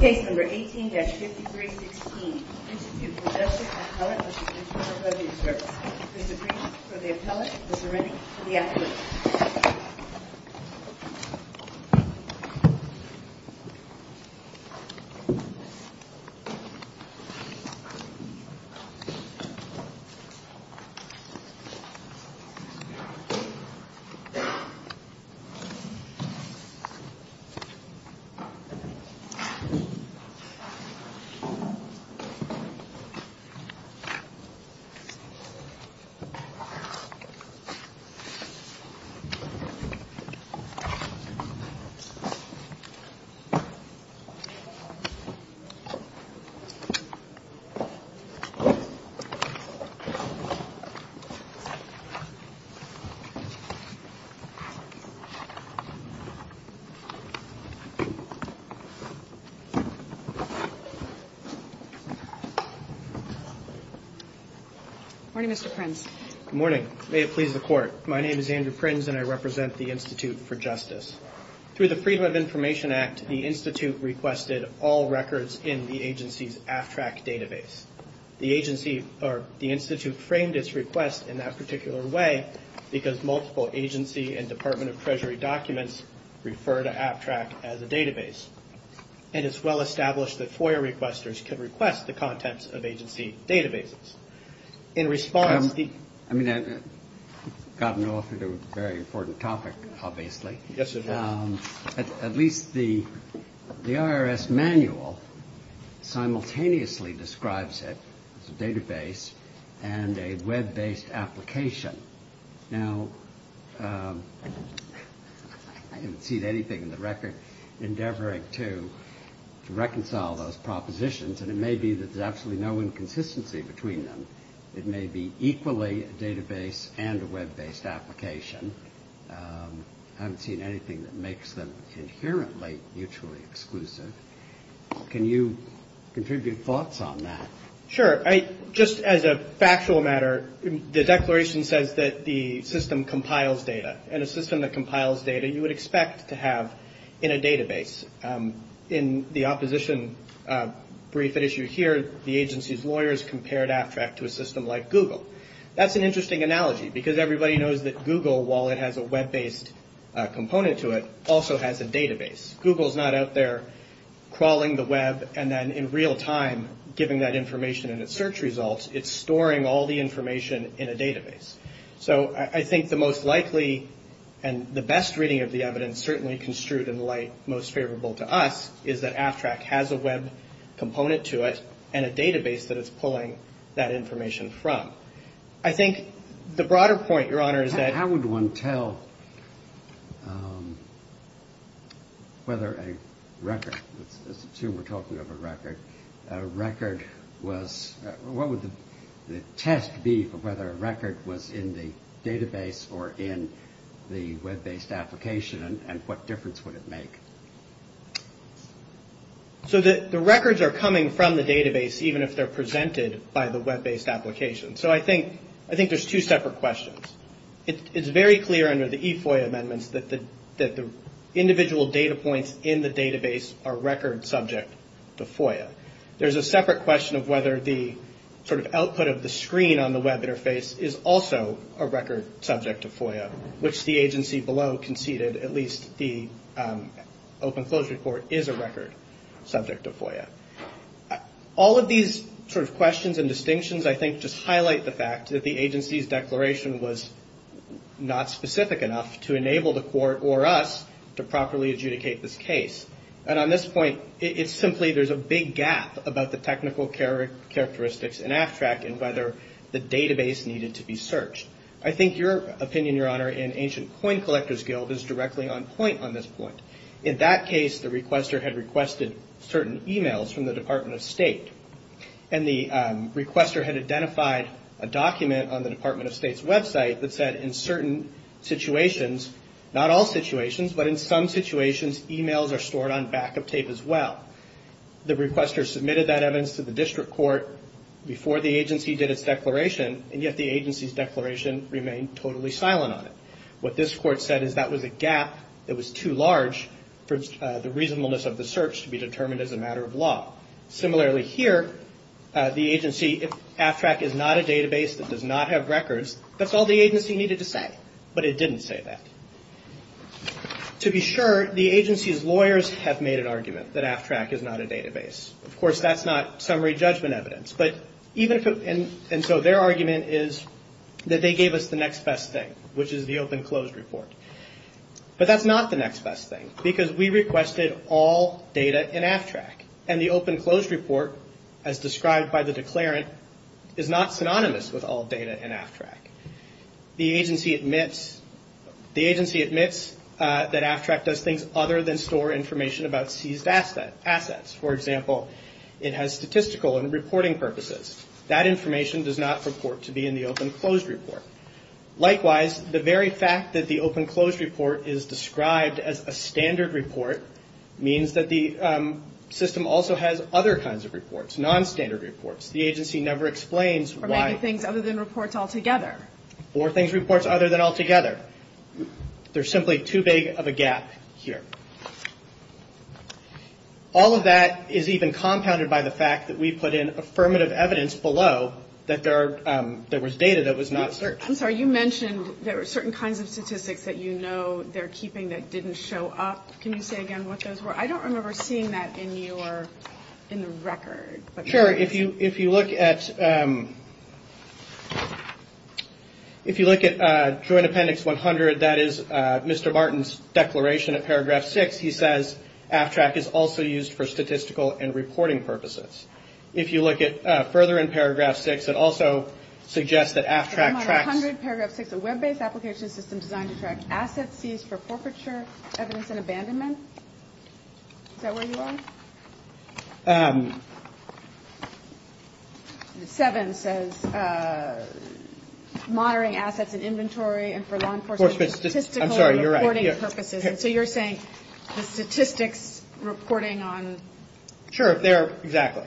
Case No. 18-5316, Institute for Justice Appellate v. Interior Weathering Service. Mr. Green for the appellate, Mr. Rennie for the applicant. Mr. Green for the appellate, Mr. Rennie for the applicant. Good morning, Mr. Prins. Good morning. May it please the Court. My name is Andrew Prins and I represent the Institute for Justice. Through the Freedom of Information Act, the Institute requested all records in the agency's AFTRAC database. The agency or the Institute framed its request in that particular way because multiple agency and Department of Treasury documents refer to AFTRAC as a database. And it's well established that FOIA requesters can request the contents of agency databases. In response, the... I mean, I've gotten off into a very important topic, obviously. Yes, sir. At least the IRS manual simultaneously describes it as a database and a web-based application. Now, I haven't seen anything in the record endeavoring to reconcile those propositions. And it may be that there's absolutely no inconsistency between them. It may be equally a database and a web-based application. I haven't seen anything that makes them inherently mutually exclusive. Can you contribute thoughts on that? Sure. Just as a factual matter, the declaration says that the system compiles data. And a system that compiles data, you would expect to have in a database. In the opposition brief at issue here, the agency's lawyers compared AFTRAC to a system like Google. That's an interesting analogy because everybody knows that Google, while it has a web-based component to it, also has a database. Google's not out there crawling the web and then in real time giving that information in its search results. It's storing all the information in a database. So I think the most likely and the best reading of the evidence, certainly construed in light most favorable to us, is that AFTRAC has a web component to it and a database that it's pulling that information from. I think the broader point, Your Honor, is that... Let's assume we're talking about a record. What would the test be for whether a record was in the database or in the web-based application and what difference would it make? So the records are coming from the database, even if they're presented by the web-based application. So I think there's two separate questions. It's very clear under the eFOIA amendments that the individual data points in the database are record subject to FOIA. There's a separate question of whether the sort of output of the screen on the web interface is also a record subject to FOIA, which the agency below conceded at least the Open Closure Court is a record subject to FOIA. All of these sort of questions and distinctions, I think, just highlight the fact that the agency's declaration was not specific enough to enable the court or us to properly adjudicate this case. And on this point, it's simply there's a big gap about the technical characteristics in AFTRAC and whether the database needed to be searched. I think your opinion, Your Honor, in Ancient Coin Collectors Guild is directly on point on this point. In that case, the requester had requested certain e-mails from the Department of State. And the requester had identified a document on the Department of State's website that said in certain situations, not all situations, but in some situations, e-mails are stored on backup tape as well. The requester submitted that evidence to the district court before the agency did its declaration, and yet the agency's declaration remained totally silent on it. What this court said is that was a gap that was too large for the reasonableness of the search to be determined as a matter of law. Similarly here, the agency, if AFTRAC is not a database that does not have records, that's all the agency needed to say. But it didn't say that. To be sure, the agency's lawyers have made an argument that AFTRAC is not a database. Of course, that's not summary judgment evidence. And so their argument is that they gave us the next best thing, which is the open-closed report. But that's not the next best thing, because we requested all data in AFTRAC. And the open-closed report, as described by the declarant, is not synonymous with all data in AFTRAC. The agency admits that AFTRAC does things other than store information about seized assets. For example, it has statistical and reporting purposes. That information does not report to be in the open-closed report. Likewise, the very fact that the open-closed report is described as a standard report means that the system also has other kinds of reports, nonstandard reports. The agency never explains why. The agency does not describe things other than reports altogether. If you look at Joint Appendix 100, that is Mr. Martin's declaration at Paragraph 6, he says AFTRAC is also used for statistical and reporting purposes. If you look further in Paragraph 6, it also suggests that AFTRAC tracks... Is that where you are? Seven says monitoring assets and inventory and for law enforcement... I'm sorry, you're right. So you're saying the statistics reporting on... Sure, there, exactly.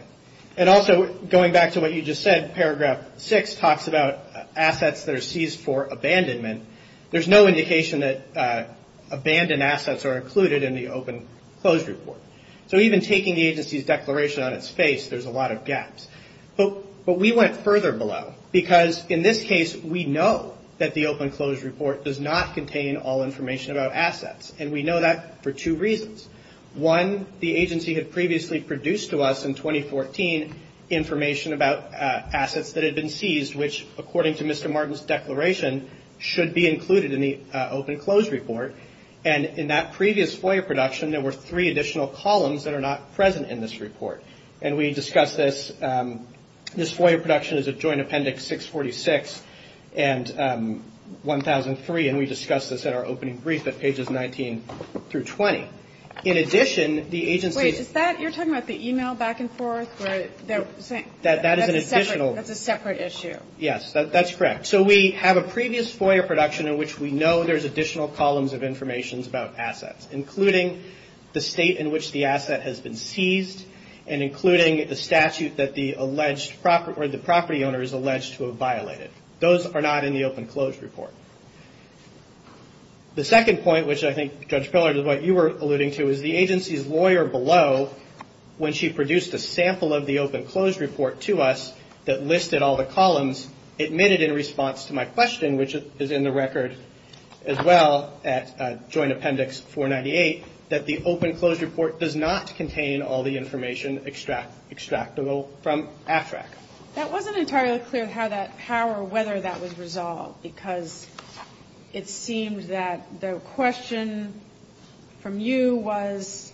And also, going back to what you just said, Paragraph 6 talks about assets that are seized for abandonment. There's no indication that abandoned assets are included in the open-closed report. So even taking the agency's declaration on its face, there's a lot of gaps. But we went further below, because in this case, we know that the open-closed report does not contain all information about assets. And we know that for two reasons. One, the agency had previously produced to us in 2014 information about assets that had been seized, which, according to Mr. Martin's declaration, should be included in the open-closed report. And in that previous FOIA production, there were three additional columns that are not present in this report. And we discussed this. This FOIA production is at Joint Appendix 646 and 1003, and we discussed this at our opening brief at pages 19 through 20. In addition, the agency... Wait, is that, you're talking about the email back and forth? That is an additional... That's a separate issue. Yes, that's correct. So we have a previous FOIA production in which we know there's additional columns of information about assets, including the state in which the asset has been seized, and including the statute that the alleged property owner is alleged to have violated. Those are not in the open-closed report. The second point, which I think, Judge Pillard, is what you were alluding to, is the agency's lawyer below, when she produced a sample of the assets, was not present in the open-closed report. So the agency did not provide a sample of the open-closed report to us that listed all the columns. It made it in response to my question, which is in the record as well at Joint Appendix 498, that the open-closed report does not contain all the information extractable from AFTRAC. That wasn't entirely clear how that, how or whether that was resolved, because it seemed that the question from you was,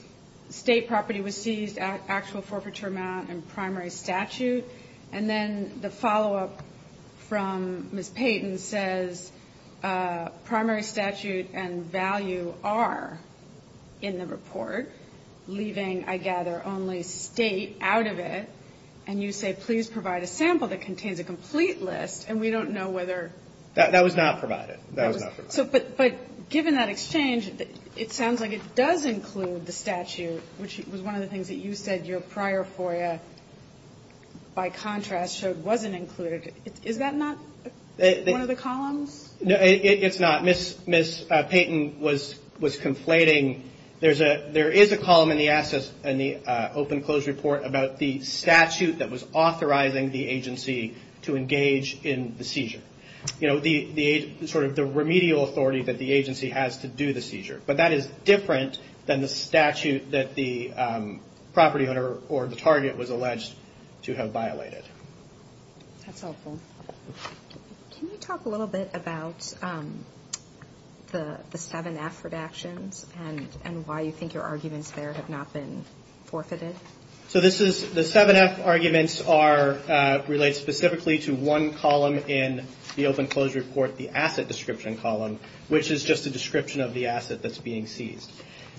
state property was seized, actual forfeiture amount, and forfeiture amount. And then the follow-up from Ms. Payton says, primary statute and value are in the report, leaving, I gather, only state out of it. And you say, please provide a sample that contains a complete list, and we don't know whether... That was not provided. That was not provided. So, but given that exchange, it sounds like it does include the statute, which was one of the things that you said your prior FOIA, by contrast, showed wasn't included. Is that not one of the columns? No, it's not. Ms. Payton was conflating, there is a column in the open-closed report about the statute that was authorizing the agency to engage in the seizure. You know, the sort of remedial authority that the agency has to do the seizure. But that is different than the statute that the property owner or the target was alleged to have violated. That's helpful. Can you talk a little bit about the 7-F redactions and why you think your arguments there have not been forfeited? So this is, the 7-F arguments are, relate specifically to one column in the open-closed report. The asset description column, which is just a description of the asset that's being seized.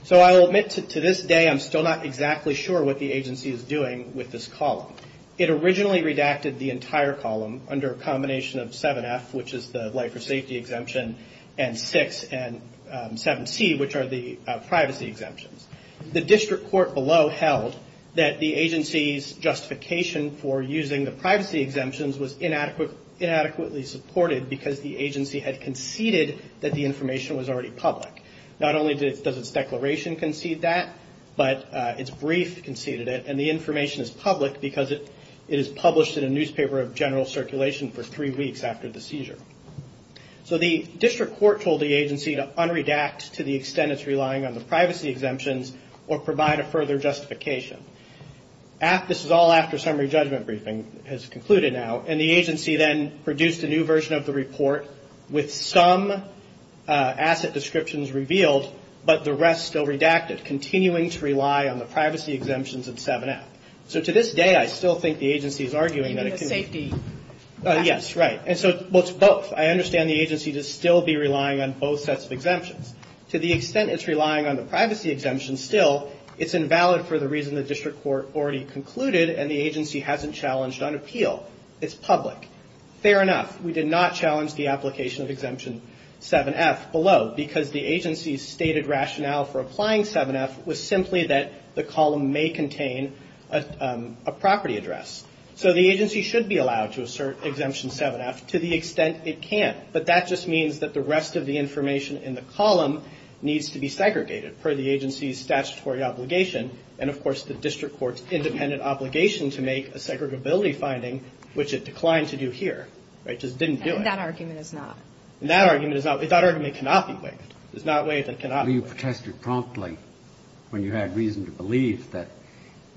So I'll admit to this day, I'm still not exactly sure what the agency is doing with this column. It originally redacted the entire column under a combination of 7-F, which is the life or safety exemption, and 6 and 7-C, which are the privacy exemptions. The district court below held that the agency's justification for using the privacy exemptions was inadequately supported. Because the agency had conceded that the information was already public. Not only does its declaration concede that, but its brief conceded it. And the information is public because it is published in a newspaper of general circulation for three weeks after the seizure. So the district court told the agency to unredact to the extent it's relying on the privacy exemptions or provide a further justification. This is all after summary judgment briefing has concluded now. And the agency then produced a new version of the report with some asset descriptions revealed, but the rest still redacted, continuing to rely on the privacy exemptions in 7-F. So to this day, I still think the agency is arguing that it can be... Yes, right. And so, well, it's both. I understand the agency to still be relying on both sets of exemptions. To the extent it's relying on the privacy exemptions still, it's invalid for the reason the district court already concluded and the agency hasn't challenged on appeal. It's public. Fair enough. We did not challenge the application of Exemption 7-F below. Because the agency's stated rationale for applying 7-F was simply that the column may contain a property address. So the agency should be allowed to assert Exemption 7-F to the extent it can't. But that just means that the rest of the information in the column needs to be segregated per the agency's statutory obligation. And, of course, the district court's independent obligation to make a segregability finding, which it declined to do here. It just didn't do it. And that argument is not... That argument cannot be waived. It's not waived and cannot be waived. Well, you protested promptly when you had reason to believe that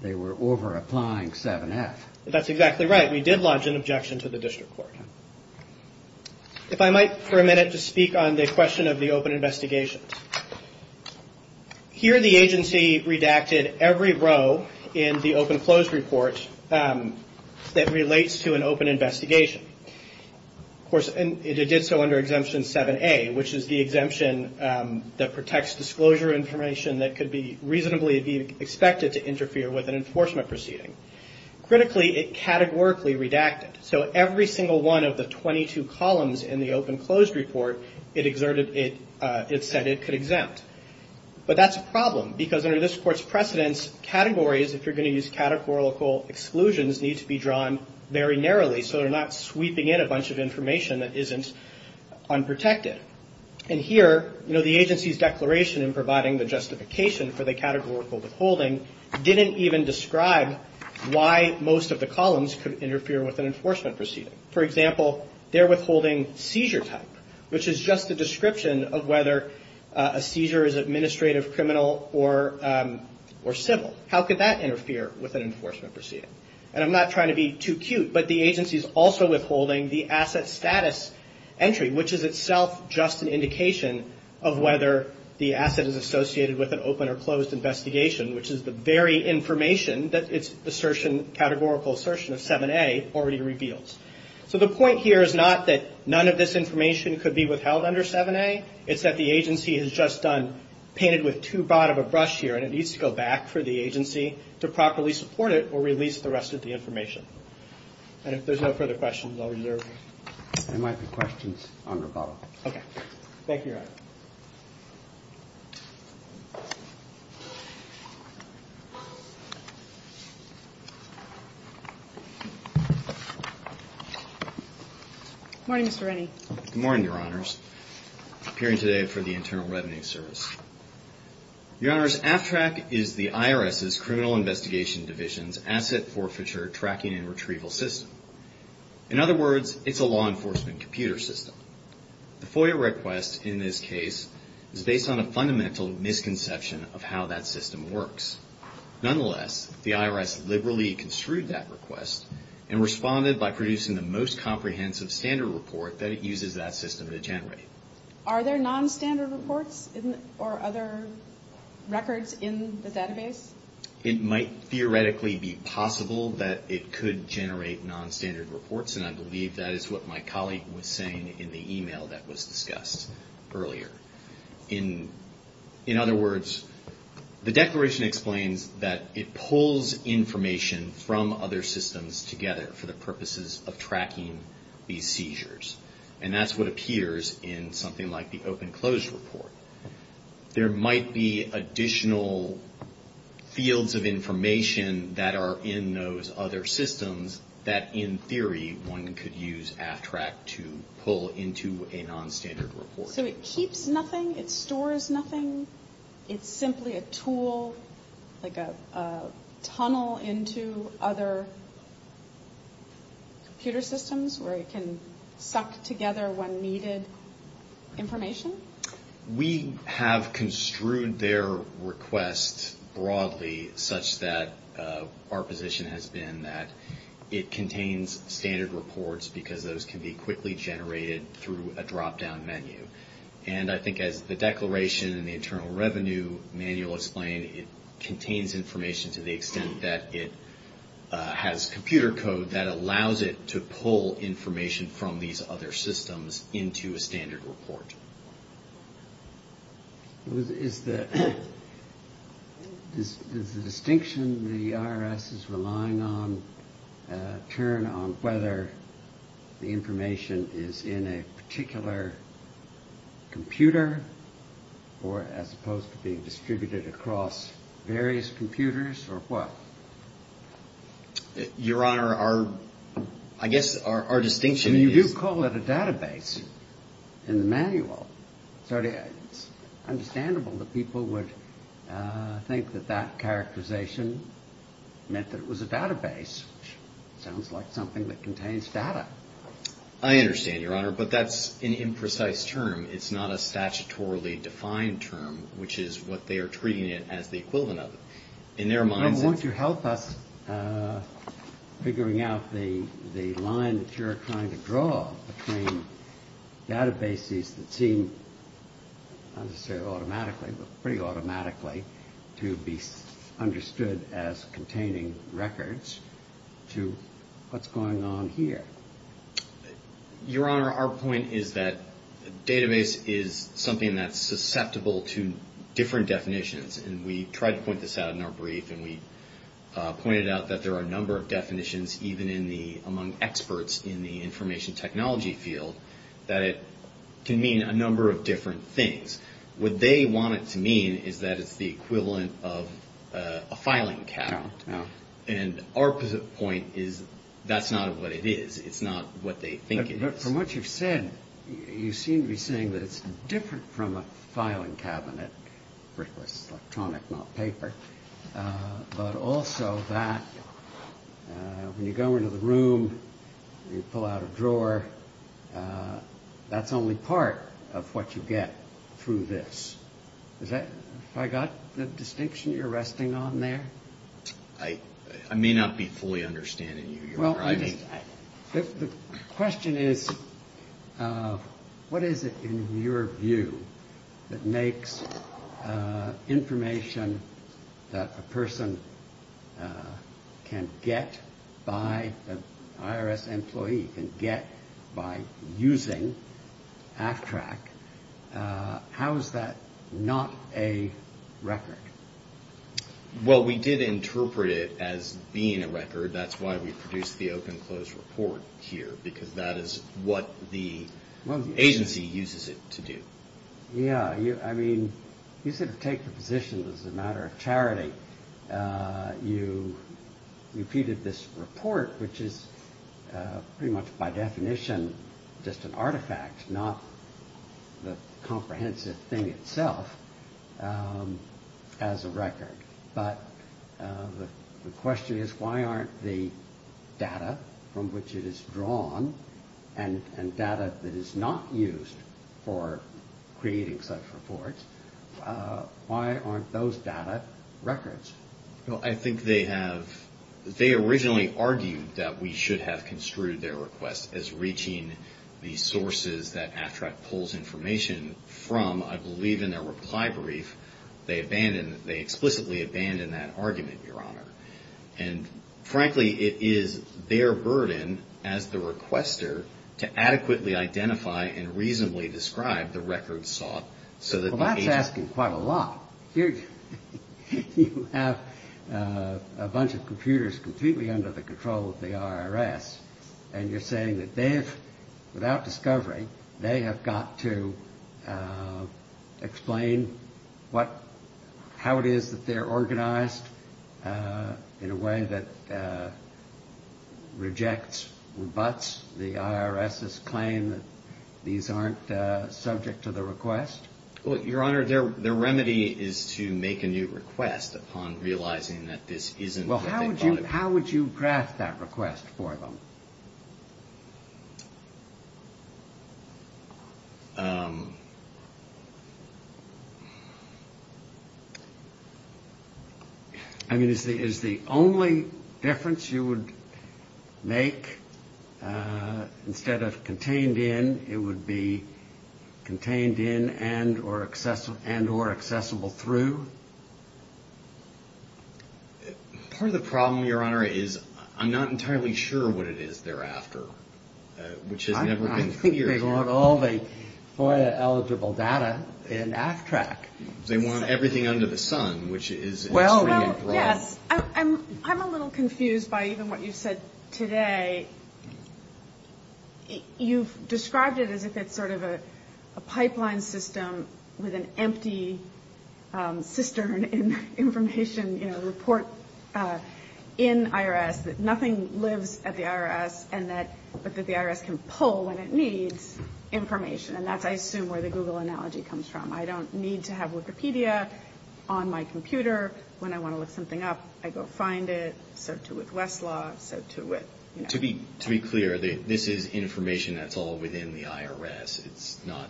they were over-applying 7-F. That's exactly right. We did lodge an objection to the district court. If I might, for a minute, just speak on the question of the open investigation. Here, the agency redacted every row in the open-closed report that relates to an open investigation. Of course, and it did so under Exemption 7-A, which is the exemption that protects disclosure information that could reasonably be expected to interfere with an enforcement proceeding. Critically, it categorically redacted. So every single one of the 22 columns in the open-closed report, it said it could exempt. But that's a problem, because under this court's precedence, categories, if you're going to use categorical exclusions, need to be drawn very narrowly so they're not sweeping in a bunch of information that isn't unprotected. And here, you know, the agency's declaration in providing the justification for the categorical withholding didn't even describe why most of the columns could interfere with an enforcement proceeding. For example, they're withholding seizure type, which is just a description of whether a seizure is administrative, criminal, or civil. How could that interfere with an enforcement proceeding? And I'm not trying to be too cute, but the agency's also withholding the asset status entry, which is itself just an indication of whether the asset is associated with an open or closed investigation, which is the very information that its assertion, categorical assertion of 7-A already reveals. So the point here is not that none of this information could be withheld under 7-A. It's that the agency has just done, painted with too broad of a brush here, and it needs to go back for the agency to properly support it or release the rest of the information. And if there's no further questions, I'll reserve them. Thank you, Your Honor. Good morning, Mr. Rennie. Good morning, Your Honors. Appearing today for the Internal Revenue Service. Your Honors, AFTRAC is the IRS's Criminal Investigation Division's asset forfeiture tracking and retrieval system. In other words, it's a law enforcement computer system. The FOIA request in this case is based on a fundamental misconception of how that system works. Nonetheless, the IRS liberally construed that request and responded by producing the most comprehensive standard report that it uses that system to generate. Are there nonstandard reports or other records in the database? It might theoretically be possible that it could generate nonstandard reports, and I believe that is what my colleague was saying in the e-mail that was discussed earlier. In other words, the declaration explains that it pulls information from other systems together for the purposes of tracking these seizures. And that's what appears in something like the open-close report. There might be additional fields of information that are in those other systems that in theory one could use AFTRAC to pull into a nonstandard report. So it keeps nothing? It stores nothing? It's simply a tool, like a tunnel into other computer systems where it can suck together when needed information? We have construed their request broadly such that our position has been that it contains standard reports because those can be quickly generated through a drop-down menu. And I think as the declaration in the Internal Revenue Manual explained, it contains information to the extent that it has computer code that allows it to pull information from these other systems into a standard report. Is the distinction the IRS is relying on a turn on whether the information is in a particular computer or as opposed to being distributed across various computers or what? Your Honor, I guess our distinction is... You do call it a database in the manual. It's understandable that people would think that that characterization meant that it was a database, which sounds like something that contains data. I understand, Your Honor, but that's an imprecise term. It's not a statutorily defined term, which is what they are treating it as the equivalent of. I want you to help us figuring out the line that you're trying to draw between databases that seem, not necessarily automatically, but pretty automatically to be understood as containing records to what's going on here. Your Honor, our point is that a database is something that's susceptible to different definitions. And we tried to point this out in our brief, and we pointed out that there are a number of definitions, even among experts in the information technology field, that it can mean a number of different things. What they want it to mean is that it's the equivalent of a filing cabinet. And our point is that's not what it is. It's not what they think it is. From what you've said, you seem to be saying that it's different from a filing cabinet, brickless, electronic, not paper. But also that when you go into the room and you pull out a drawer, that's only part of what you get through this. Have I got the distinction you're resting on there? The question is, what is it, in your view, that makes information that a person can get by an IRS employee, can get by using AFTRAC, how is that not a record? Well, we did interpret it as being a record. That's why we produced the open-close report here, because that is what the agency uses it to do. You sort of take the position as a matter of charity. You repeated this report, which is pretty much by definition just an artifact, not the comprehensive thing itself, as a record. But the question is, why aren't the data from which it is drawn and data that is not used for creating such reports, why aren't those data records? They originally argued that we should have construed their request as reaching the sources that AFTRAC pulls information from. I believe in their reply brief, they explicitly abandoned that argument, Your Honor. And frankly, it is their burden as the requester to adequately identify and reasonably describe the records sought so that the agency... Well, that's asking quite a lot. You have a bunch of computers completely under the control of the IRS and you're saying that without discovery, they have got to explain how it is that they're organized in a way that rejects, rebuts the IRS's claim that these aren't subject to the request? Well, Your Honor, their remedy is to make a new request upon realizing that this isn't what they thought it would be. Well, how would you draft that request for them? I mean, is the only difference you would make is that instead of contained in, it would be contained in and or accessible through? Part of the problem, Your Honor, is I'm not entirely sure what it is they're after, which has never been clear. I think they want all the FOIA eligible data in AFTRAC. They want everything under the sun, which is... I'm a little confused by even what you said today. You've described it as if it's sort of a pipeline system with an empty cistern in information report in IRS, that nothing lives at the IRS, but that the IRS can pull when it needs information. And that's, I assume, where the Google analogy comes from. I don't need to have Wikipedia on my computer when I want to look something up. I go find it, so too with Westlaw, so too with... To be clear, this is information that's all within the IRS. It's not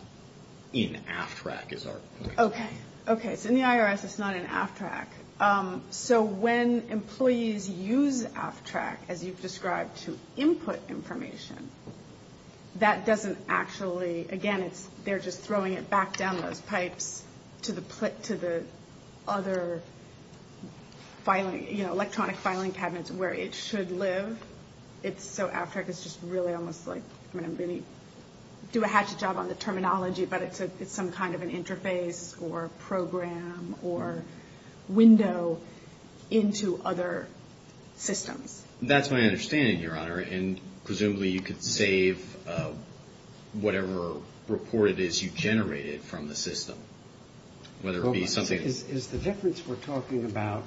in AFTRAC, is our point. Okay, so in the IRS, it's not in AFTRAC. So when employees use AFTRAC, as you've described, to input information, that doesn't actually... Again, they're just throwing it back down those pipes to the other electronic filing cabinets where it should live. So AFTRAC is just really almost like... We do a hatchet job on the terminology, but it's some kind of an interface or program or window into other systems. That's my understanding, Your Honor, and presumably you could save whatever report it is you generated from the system, whether it be something... Is the difference we're talking about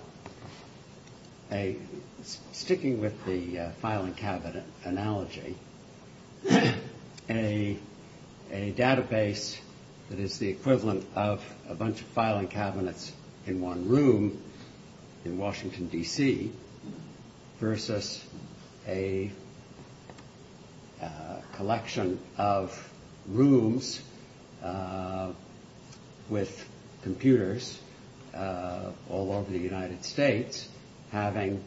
a... An analogy. A database that is the equivalent of a bunch of filing cabinets in one room in Washington, D.C., versus a collection of rooms with computers all over the United States having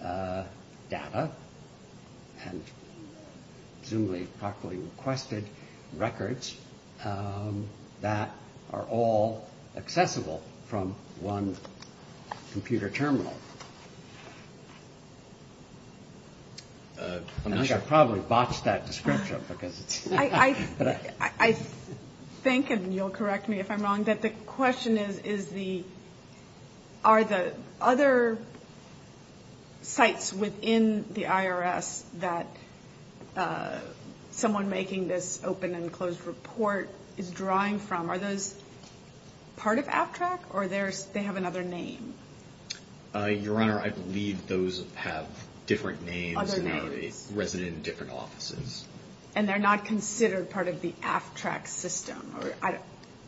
data and presumably properly requested records that are all accessible from one computer terminal. I probably botched that description because it's... I think, and you'll correct me if I'm wrong, that the question is, are the other sites within the IRS that someone making this open and closed report is drawing from, are those part of AFTRAC or they have another name? Your Honor, I believe those have different names and are resident in different offices. And they're not considered part of the AFTRAC system.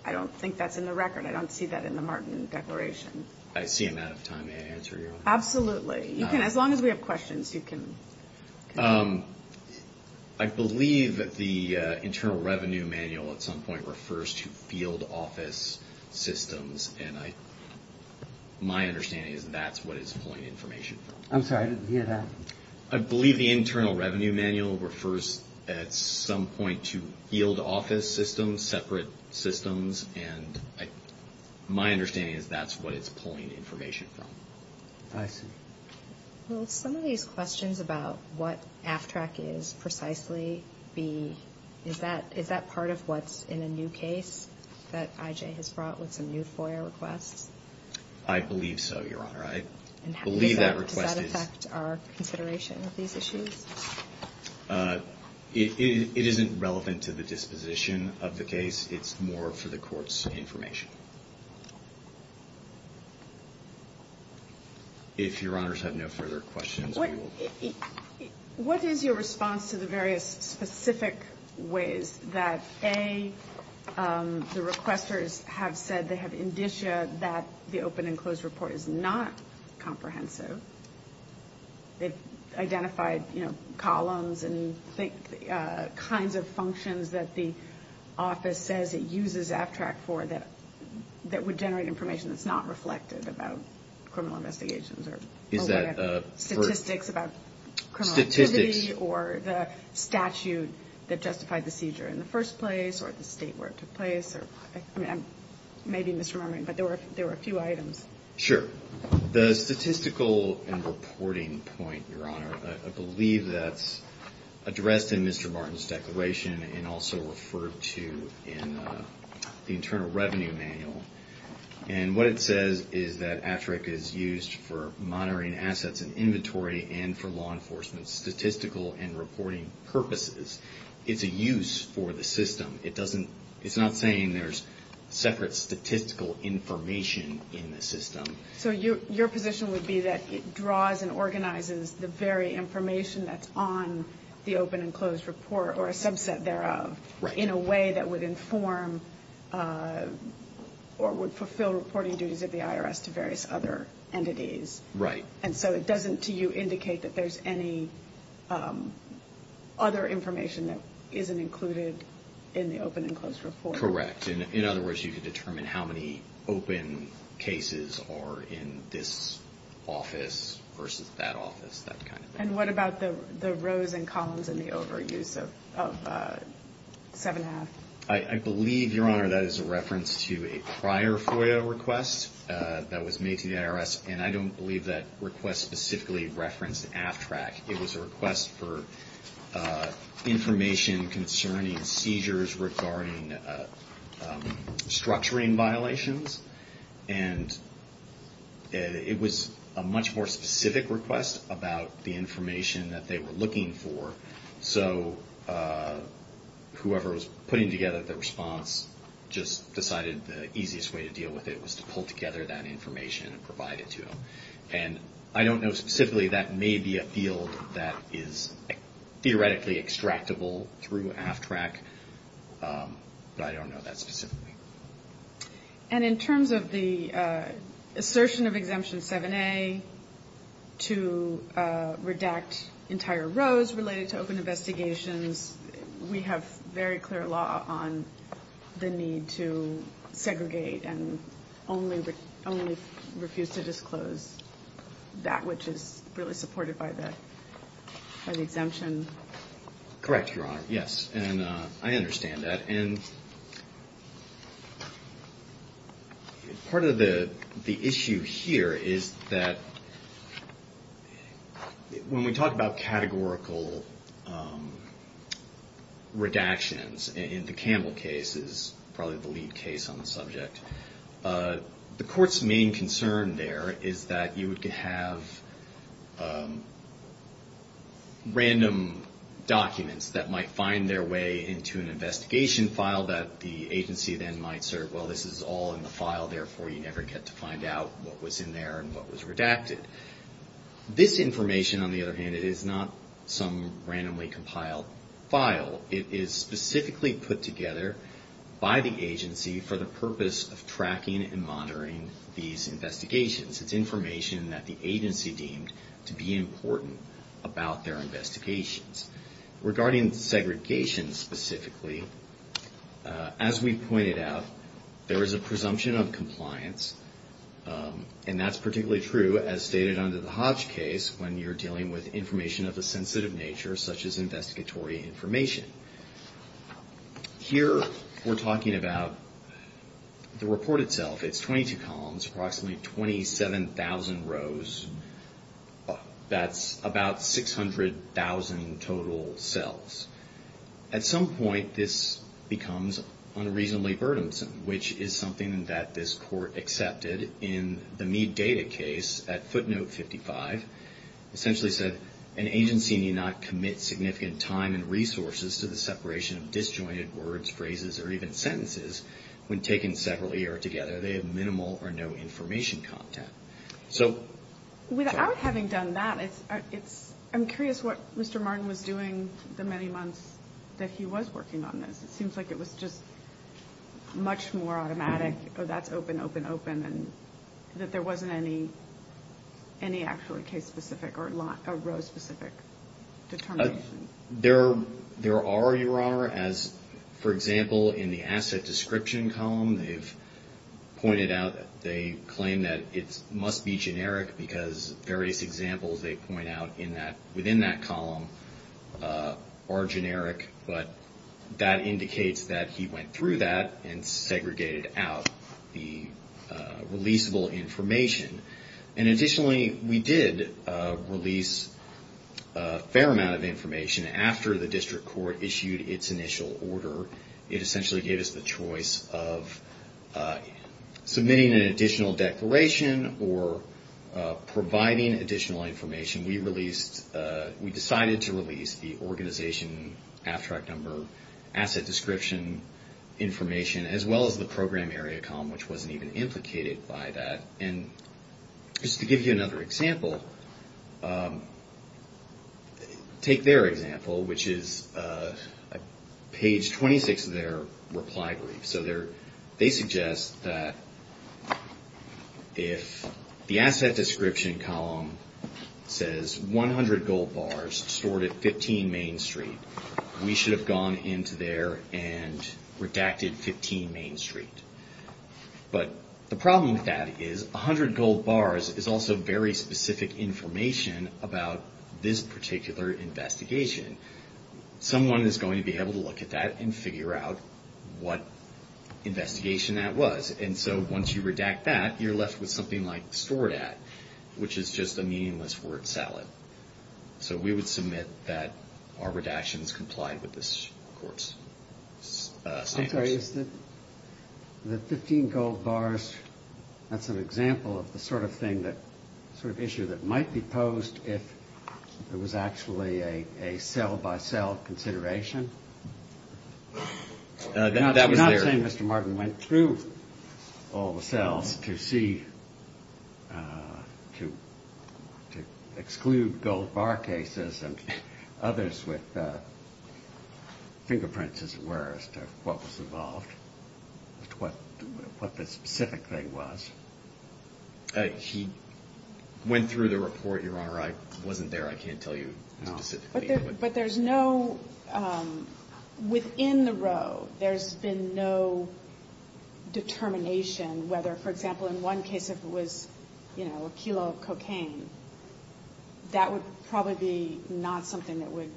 I don't think that's in the record. I don't see that in the Martin Declaration. I see I'm out of time. May I answer, Your Honor? Absolutely. As long as we have questions, you can continue. I believe that the Internal Revenue Manual at some point refers to field office systems, and my understanding is that's what it's pulling information from. I'm sorry, I didn't hear that. I believe the Internal Revenue Manual refers at some point to field office systems, separate systems, and my understanding is that's what it's pulling information from. I see. Will some of these questions about what AFTRAC is precisely be, is that part of what's in a new case that IJ has brought with some new FOIA requests? I believe so, Your Honor. Does that affect our consideration of these issues? It isn't relevant to the disposition of the case. It's more for the court's information. If Your Honor has no further questions, we will. What is your response to the various specific ways that A, the requesters have said they have indicia that the open and closed report is not comprehensive? They've identified columns and kinds of functions that the office says it uses AFTRAC for that would generate information that's not reflected about criminal investigations or statistics about criminality or the statute that justified the seizure in the first place or the state where it took place. I may be misremembering, but there were a few items. Sure. The statistical and reporting point, Your Honor, I believe that's addressed in Mr. Martin's declaration and also referred to in the Internal Revenue Manual. And what it says is that AFTRAC is used for monitoring assets and inventory and for law enforcement statistical and reporting purposes. It's a use for the system. It's not saying there's separate statistical information in the system. So your position would be that it draws and organizes the very information that's on the open and closed report or a subset thereof in a way that would inform or would fulfill reporting duties of the IRS to various other entities. Right. And so it doesn't to you indicate that there's any other information that isn't included in the open and closed report? Correct. In other words, you could determine how many open cases are in this office versus that office, that kind of thing. And what about the rows and columns and the overuse of 7 1⁄2? I believe, Your Honor, that is a reference to a prior FOIA request that was made to the IRS. And I don't believe that request specifically referenced AFTRAC. It was a request for information concerning seizures regarding structuring violations. And it was a much more specific request about the information that they were looking for. So whoever was putting together the response just decided the easiest way to deal with it was to pull together that information and provide it to them. And I don't know specifically that may be a field that is theoretically extractable through AFTRAC. But I don't know that specifically. And in terms of the assertion of Exemption 7A to redact entire rows related to open investigations, we have very clear law on the need to segregate and only refuse to disclose that which is really supported by the exemption. Correct, Your Honor. Yes. And I understand that. And part of the question is, when you talk about categorical redactions in the Campbell case is probably the lead case on the subject. The Court's main concern there is that you would have random documents that might find their way into an investigation file that the agency then might sort of, well, this is all in the file. Therefore, you never get to find out what was in there and what was redacted. This information on the other hand, it is not some randomly compiled file. It is specifically put together by the agency for the purpose of tracking and monitoring these investigations. It's information that the agency deemed to be important about their investigations. Regarding segregation specifically, as we pointed out, there is a presumption of compliance. And that's particularly true as stated under the Hodge case when you're dealing with information of a sensitive nature such as investigatory information. Here we're talking about the report itself. It's 22 columns, approximately 27,000 rows. That's about 600,000 total cells. At some point, this becomes unreasonably burdensome, which is something that this Court accepted in the Mead data case at footnote 55. Essentially said, an agency need not commit significant time and resources to the separation of disjointed words, phrases, or even sentences when taken separately or together. They have minimal or no information content. I'm curious what Mr. Martin was doing the many months that he was working on this. It seems like it was just much more automatic. That's open, open, open. That there wasn't any actual case specific or row specific determination. There are, Your Honor. For example, in the asset description column, they've pointed out that they claim that it must be generic because various examples they point out within that column are generic. But that indicates that he went through that and segregated out the releasable information. Additionally, we did release a fair amount of information after the District Court issued its initial order. It essentially gave us the choice of submitting an additional declaration or providing additional information. We decided to release the organization abstract number, asset description information, as well as the program area column, which wasn't even implicated by that. Just to give you another example, take their example, which is page 26 of their reply brief. They suggest that if the asset description column says 100 gold bars stored at 15 Main Street, we should have gone into there and looked at that. Because 100 gold bars is also very specific information about this particular investigation. Someone is going to be able to look at that and figure out what investigation that was. And so once you redact that, you're left with something like stored at, which is just a meaningless word salad. So we would submit that our redactions complied with this court's standards. The 15 gold bars, that's an example of the sort of thing that, sort of issue that might be posed if there was actually a cell by cell consideration. You're not saying Mr. Martin went through all the cells to see, to exclude gold bar cases and others with fingerprints as it were, as to what was involved, as to what the specific thing was. He went through the report, Your Honor. I wasn't there. I can't tell you specifically. But there's no, within the row, there's been no determination whether, for example, in one case if it was, you know, a kilo of cocaine, that would probably be not something that would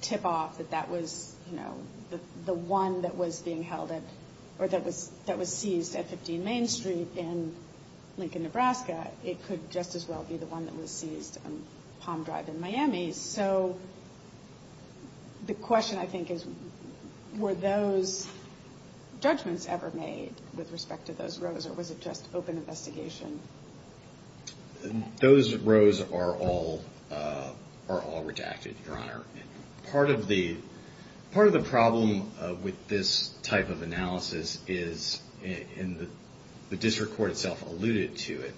tip off that that was, you know, the one that was being held at, or that was seized at 15 Main Street in Lincoln, Nebraska. It could just as well be the one that was seized on Palm Drive in Miami. So the question I think is, were those judgments ever made with respect to those rows, or was it just open investigation? Those rows are all redacted, Your Honor. Part of the problem with this type of analysis is, and the district court itself alluded to it,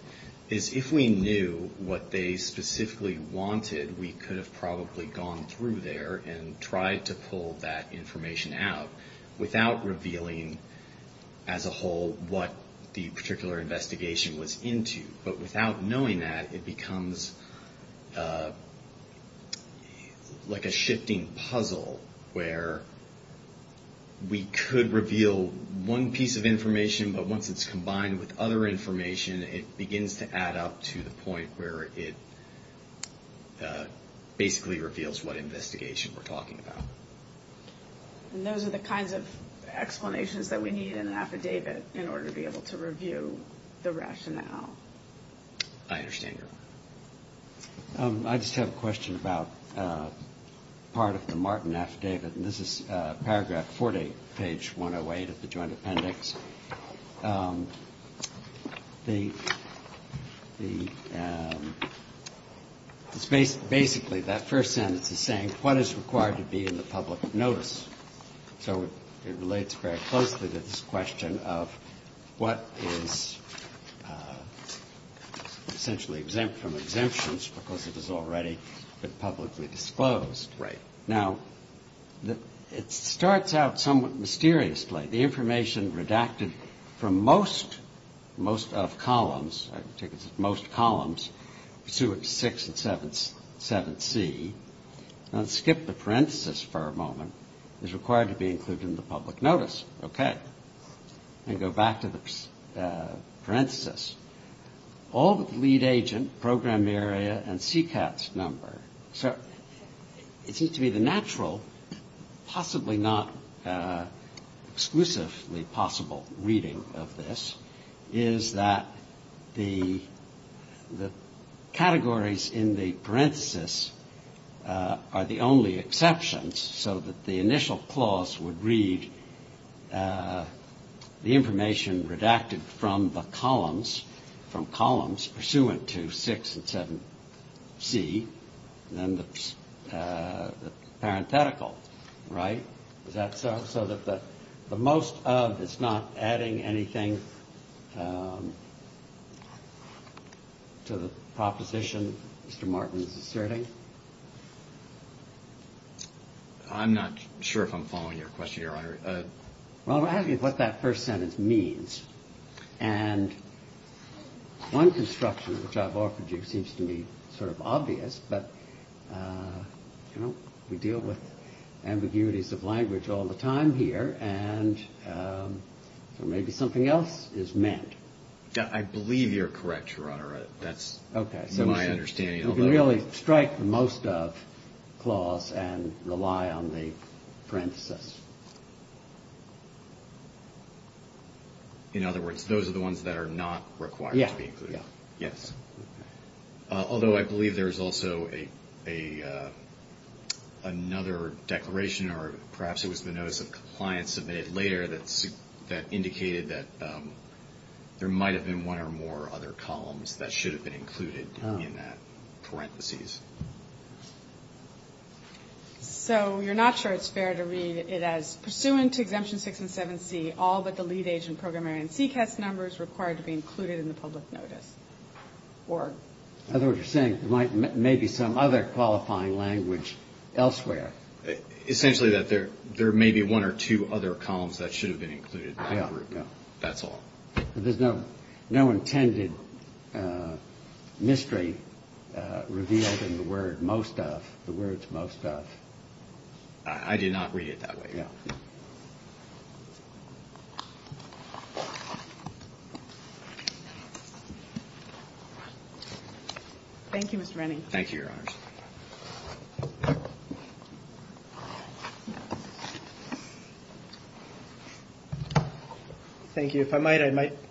is if we knew what they specifically wanted, we could have probably gone through there and tried to pull that information out without revealing as a whole what the particular investigation was into. But without knowing that, it becomes like a shifting puzzle, where we could reveal one piece of information, but once it's combined with other information, it begins to add up to the point where it basically reveals what investigation we're talking about. And those are the kinds of explanations that we need in an affidavit in order to be able to review the rationale. I understand, Your Honor. I just have a question about part of the Martin affidavit, and this is paragraph 40, page 108 of the joint appendix. It's basically that first sentence is saying what is required to be in the public notice. So it relates very closely to this question of what is essentially exempt from exemptions because it has already been publicly disclosed. Now, it starts out somewhat mysteriously. The information redacted from most of columns, most columns, pursuant to 6 and 7C, let's skip the parenthesis for a moment, is required to be included in the public notice. Okay. And go back to the parenthesis. All but the lead agent, program area, and CCATS number. So it seems to be the natural, possibly not exclusively possible reading of this, is that the categories in the parenthesis are the only exceptions so that the initial clause would read the information redacted from the columns, pursuant to 6 and 7C, and then the parenthetical. Right? Is that so? So that the most of is not adding anything to the proposition Mr. Martin is asserting? I'm not sure if I'm following your question, Your Honor. Well, I'm asking you what that first sentence means. And one construction which I've offered you seems to me sort of obvious, but we deal with ambiguities of language all the time here, and maybe something else is meant. I believe you're correct, Your Honor. That's my understanding. You can really strike the most of clause and rely on the parenthesis. In other words, those are the ones that are not required to be included. Although I believe there is also another declaration, or perhaps it was the notice of compliance submitted later, that indicated that there might have been one or more other columns that should have been included in that parenthesis. So you're not sure it's fair to read it as, pursuant to exemption 6 and 7C, all but the lead agent program area and CCAS numbers required to be included in the public notice? In other words, you're saying there may be some other qualifying language elsewhere. Essentially that there may be one or two other columns that should have been included in that group. That's all. There's no intended mystery revealed in the words most of. I did not read it that way. Thank you, Mr. Rennie. Thank you. If I might,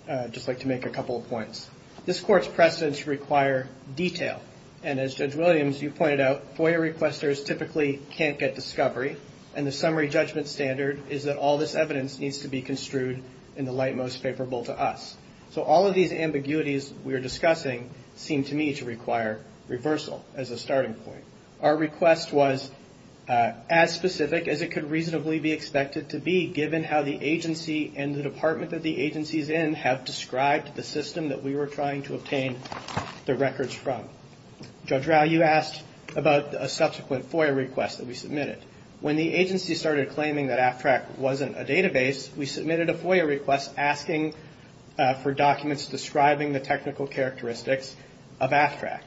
I'd just like to make a couple of points. This Court's precedents require detail. And as Judge Williams, you pointed out, FOIA requesters typically can't get discovery. And the summary judgment standard is that all this evidence needs to be construed in the light most favorable to us. So all of these ambiguities we are discussing seem to me to require reversal as a starting point. The department that the agency is in have described the system that we were trying to obtain the records from. Judge Rau, you asked about a subsequent FOIA request that we submitted. When the agency started claiming that AFTRAC wasn't a database, we submitted a FOIA request asking for documents describing the technical characteristics of AFTRAC.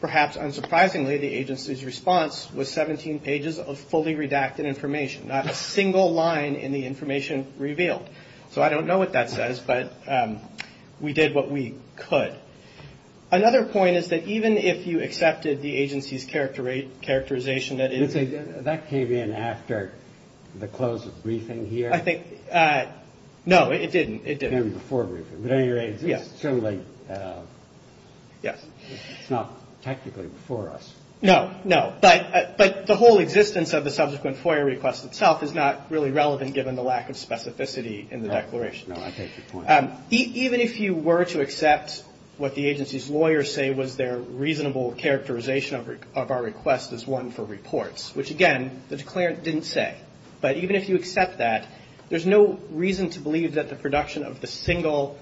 Perhaps unsurprisingly, the agency's response was 17 pages of fully redacted information, not a single line in the information revealed. I don't know what that says, but we did what we could. Another point is that even if you accepted the agency's characterization that it is... That came in after the close of briefing here? No, it didn't. It's not technically before us. No, no. But the whole existence of the subsequent FOIA request itself is not really relevant given the lack of specificity in the declaration. Even if you were to accept what the agency's lawyers say was their reasonable characterization of our request as one for reports, which, again, the declarant didn't say, but even if you accept that, there's no reason to believe that the production of the single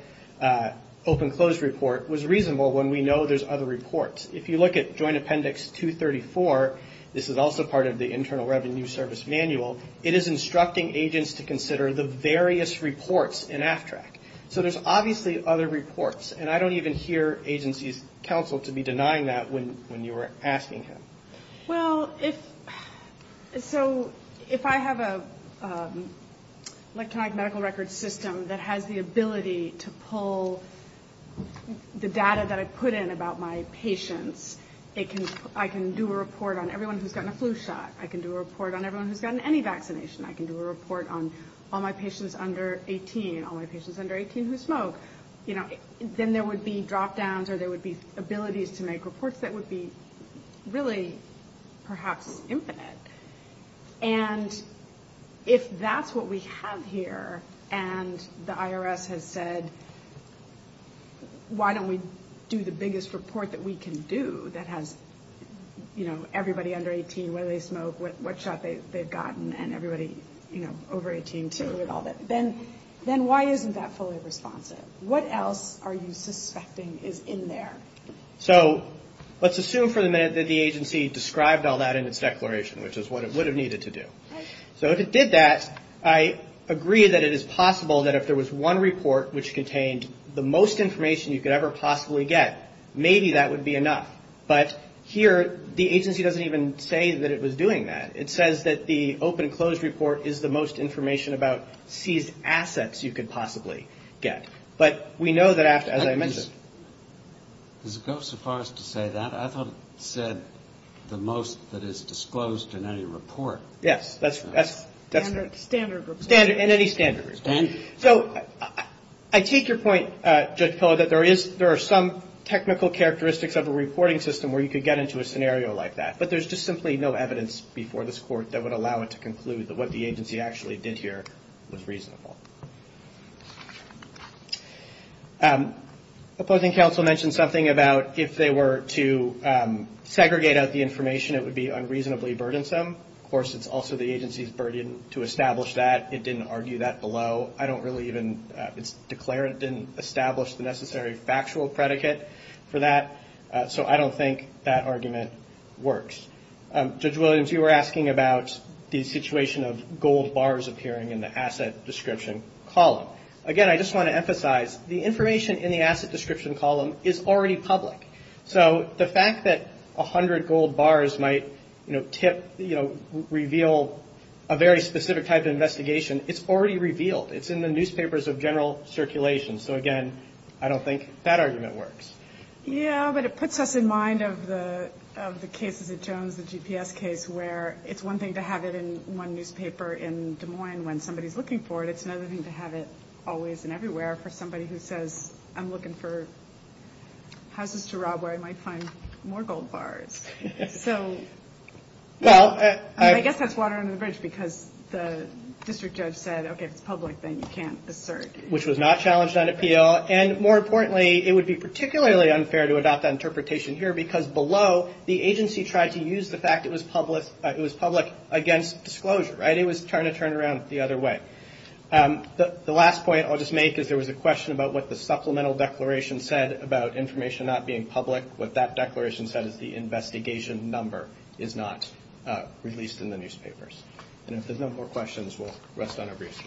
open-closed report was reasonable when we know there's other reports. If you look at Joint Appendix 234, this is also part of the Internal Revenue Service Manual, it is instructing agents to consider the various reports in AFTRAC. So there's obviously other reports. And I don't even hear agency's counsel to be denying that when you were asking him. Well, if... I can pull the data that I put in about my patients. I can do a report on everyone who's gotten a flu shot. I can do a report on everyone who's gotten any vaccination. I can do a report on all my patients under 18, all my patients under 18 who smoke. Then there would be drop-downs or there would be abilities to make reports that would be really perhaps infinite. And if that's what we have here, and the IRS has said, why don't we do the biggest report that we can do that has, you know, everybody under 18, whether they smoke, what shot they've gotten, and everybody, you know, over 18, too, and all that, then why isn't that fully responsive? What else are you suspecting is in there? So let's assume for the minute that the agency described all that in its declaration, which is what it would have needed to do. So if it did that, I agree that it is possible that if there was one report which contained the most information you could ever possibly get, maybe that would be enough. But here the agency doesn't even say that it was doing that. It says that the open and closed report is the most information about seized assets you could possibly get. But we know that after, as I mentioned. Does it go so far as to say that? I thought it said the most that is disclosed in any report. Yes, that's standard in any standard report. So I take your point, Judge Pillow, that there are some technical characteristics of a reporting system where you could get into a scenario like that. But there's just simply no evidence before this Court that would allow it to conclude that what the agency actually did here was reasonable. Opposing counsel mentioned something about if they were to segregate out the information, it would be unreasonably burdensome. Of course, it's also the agency's burden to establish that. It didn't argue that below. I don't really even declare it didn't establish the necessary factual predicate for that. So I don't think that argument works. Judge Williams, you were asking about the situation of gold bars appearing in the asset description column. Again, I just want to emphasize the information in the asset description column is already public. So the fact that 100 gold bars might tip, you know, reveal a very specific type of investigation, it's already revealed. It's in the newspapers of general circulation. So again, I don't think that argument works. Yeah, but it puts us in mind of the cases at Jones, the GPS case, where it's one thing to have it in one newspaper in Des Moines when somebody's looking for it. It's another thing to have it always and everywhere for somebody who says, I'm looking for houses to rob where I might find more gold bars. So well, I guess that's water under the bridge because the district judge said, OK, it's public, then you can't assert, which was not challenged on appeal. And more importantly, it would be particularly unfair to adopt that interpretation here because below the agency tried to use the fact it was public. It was public against disclosure. It was trying to turn around the other way. The last point I'll just make is there was a question about what the supplemental declaration said about information not being public. What that declaration said is the investigation number is not released in the newspapers. And if there's no more questions, we'll rest on our briefs.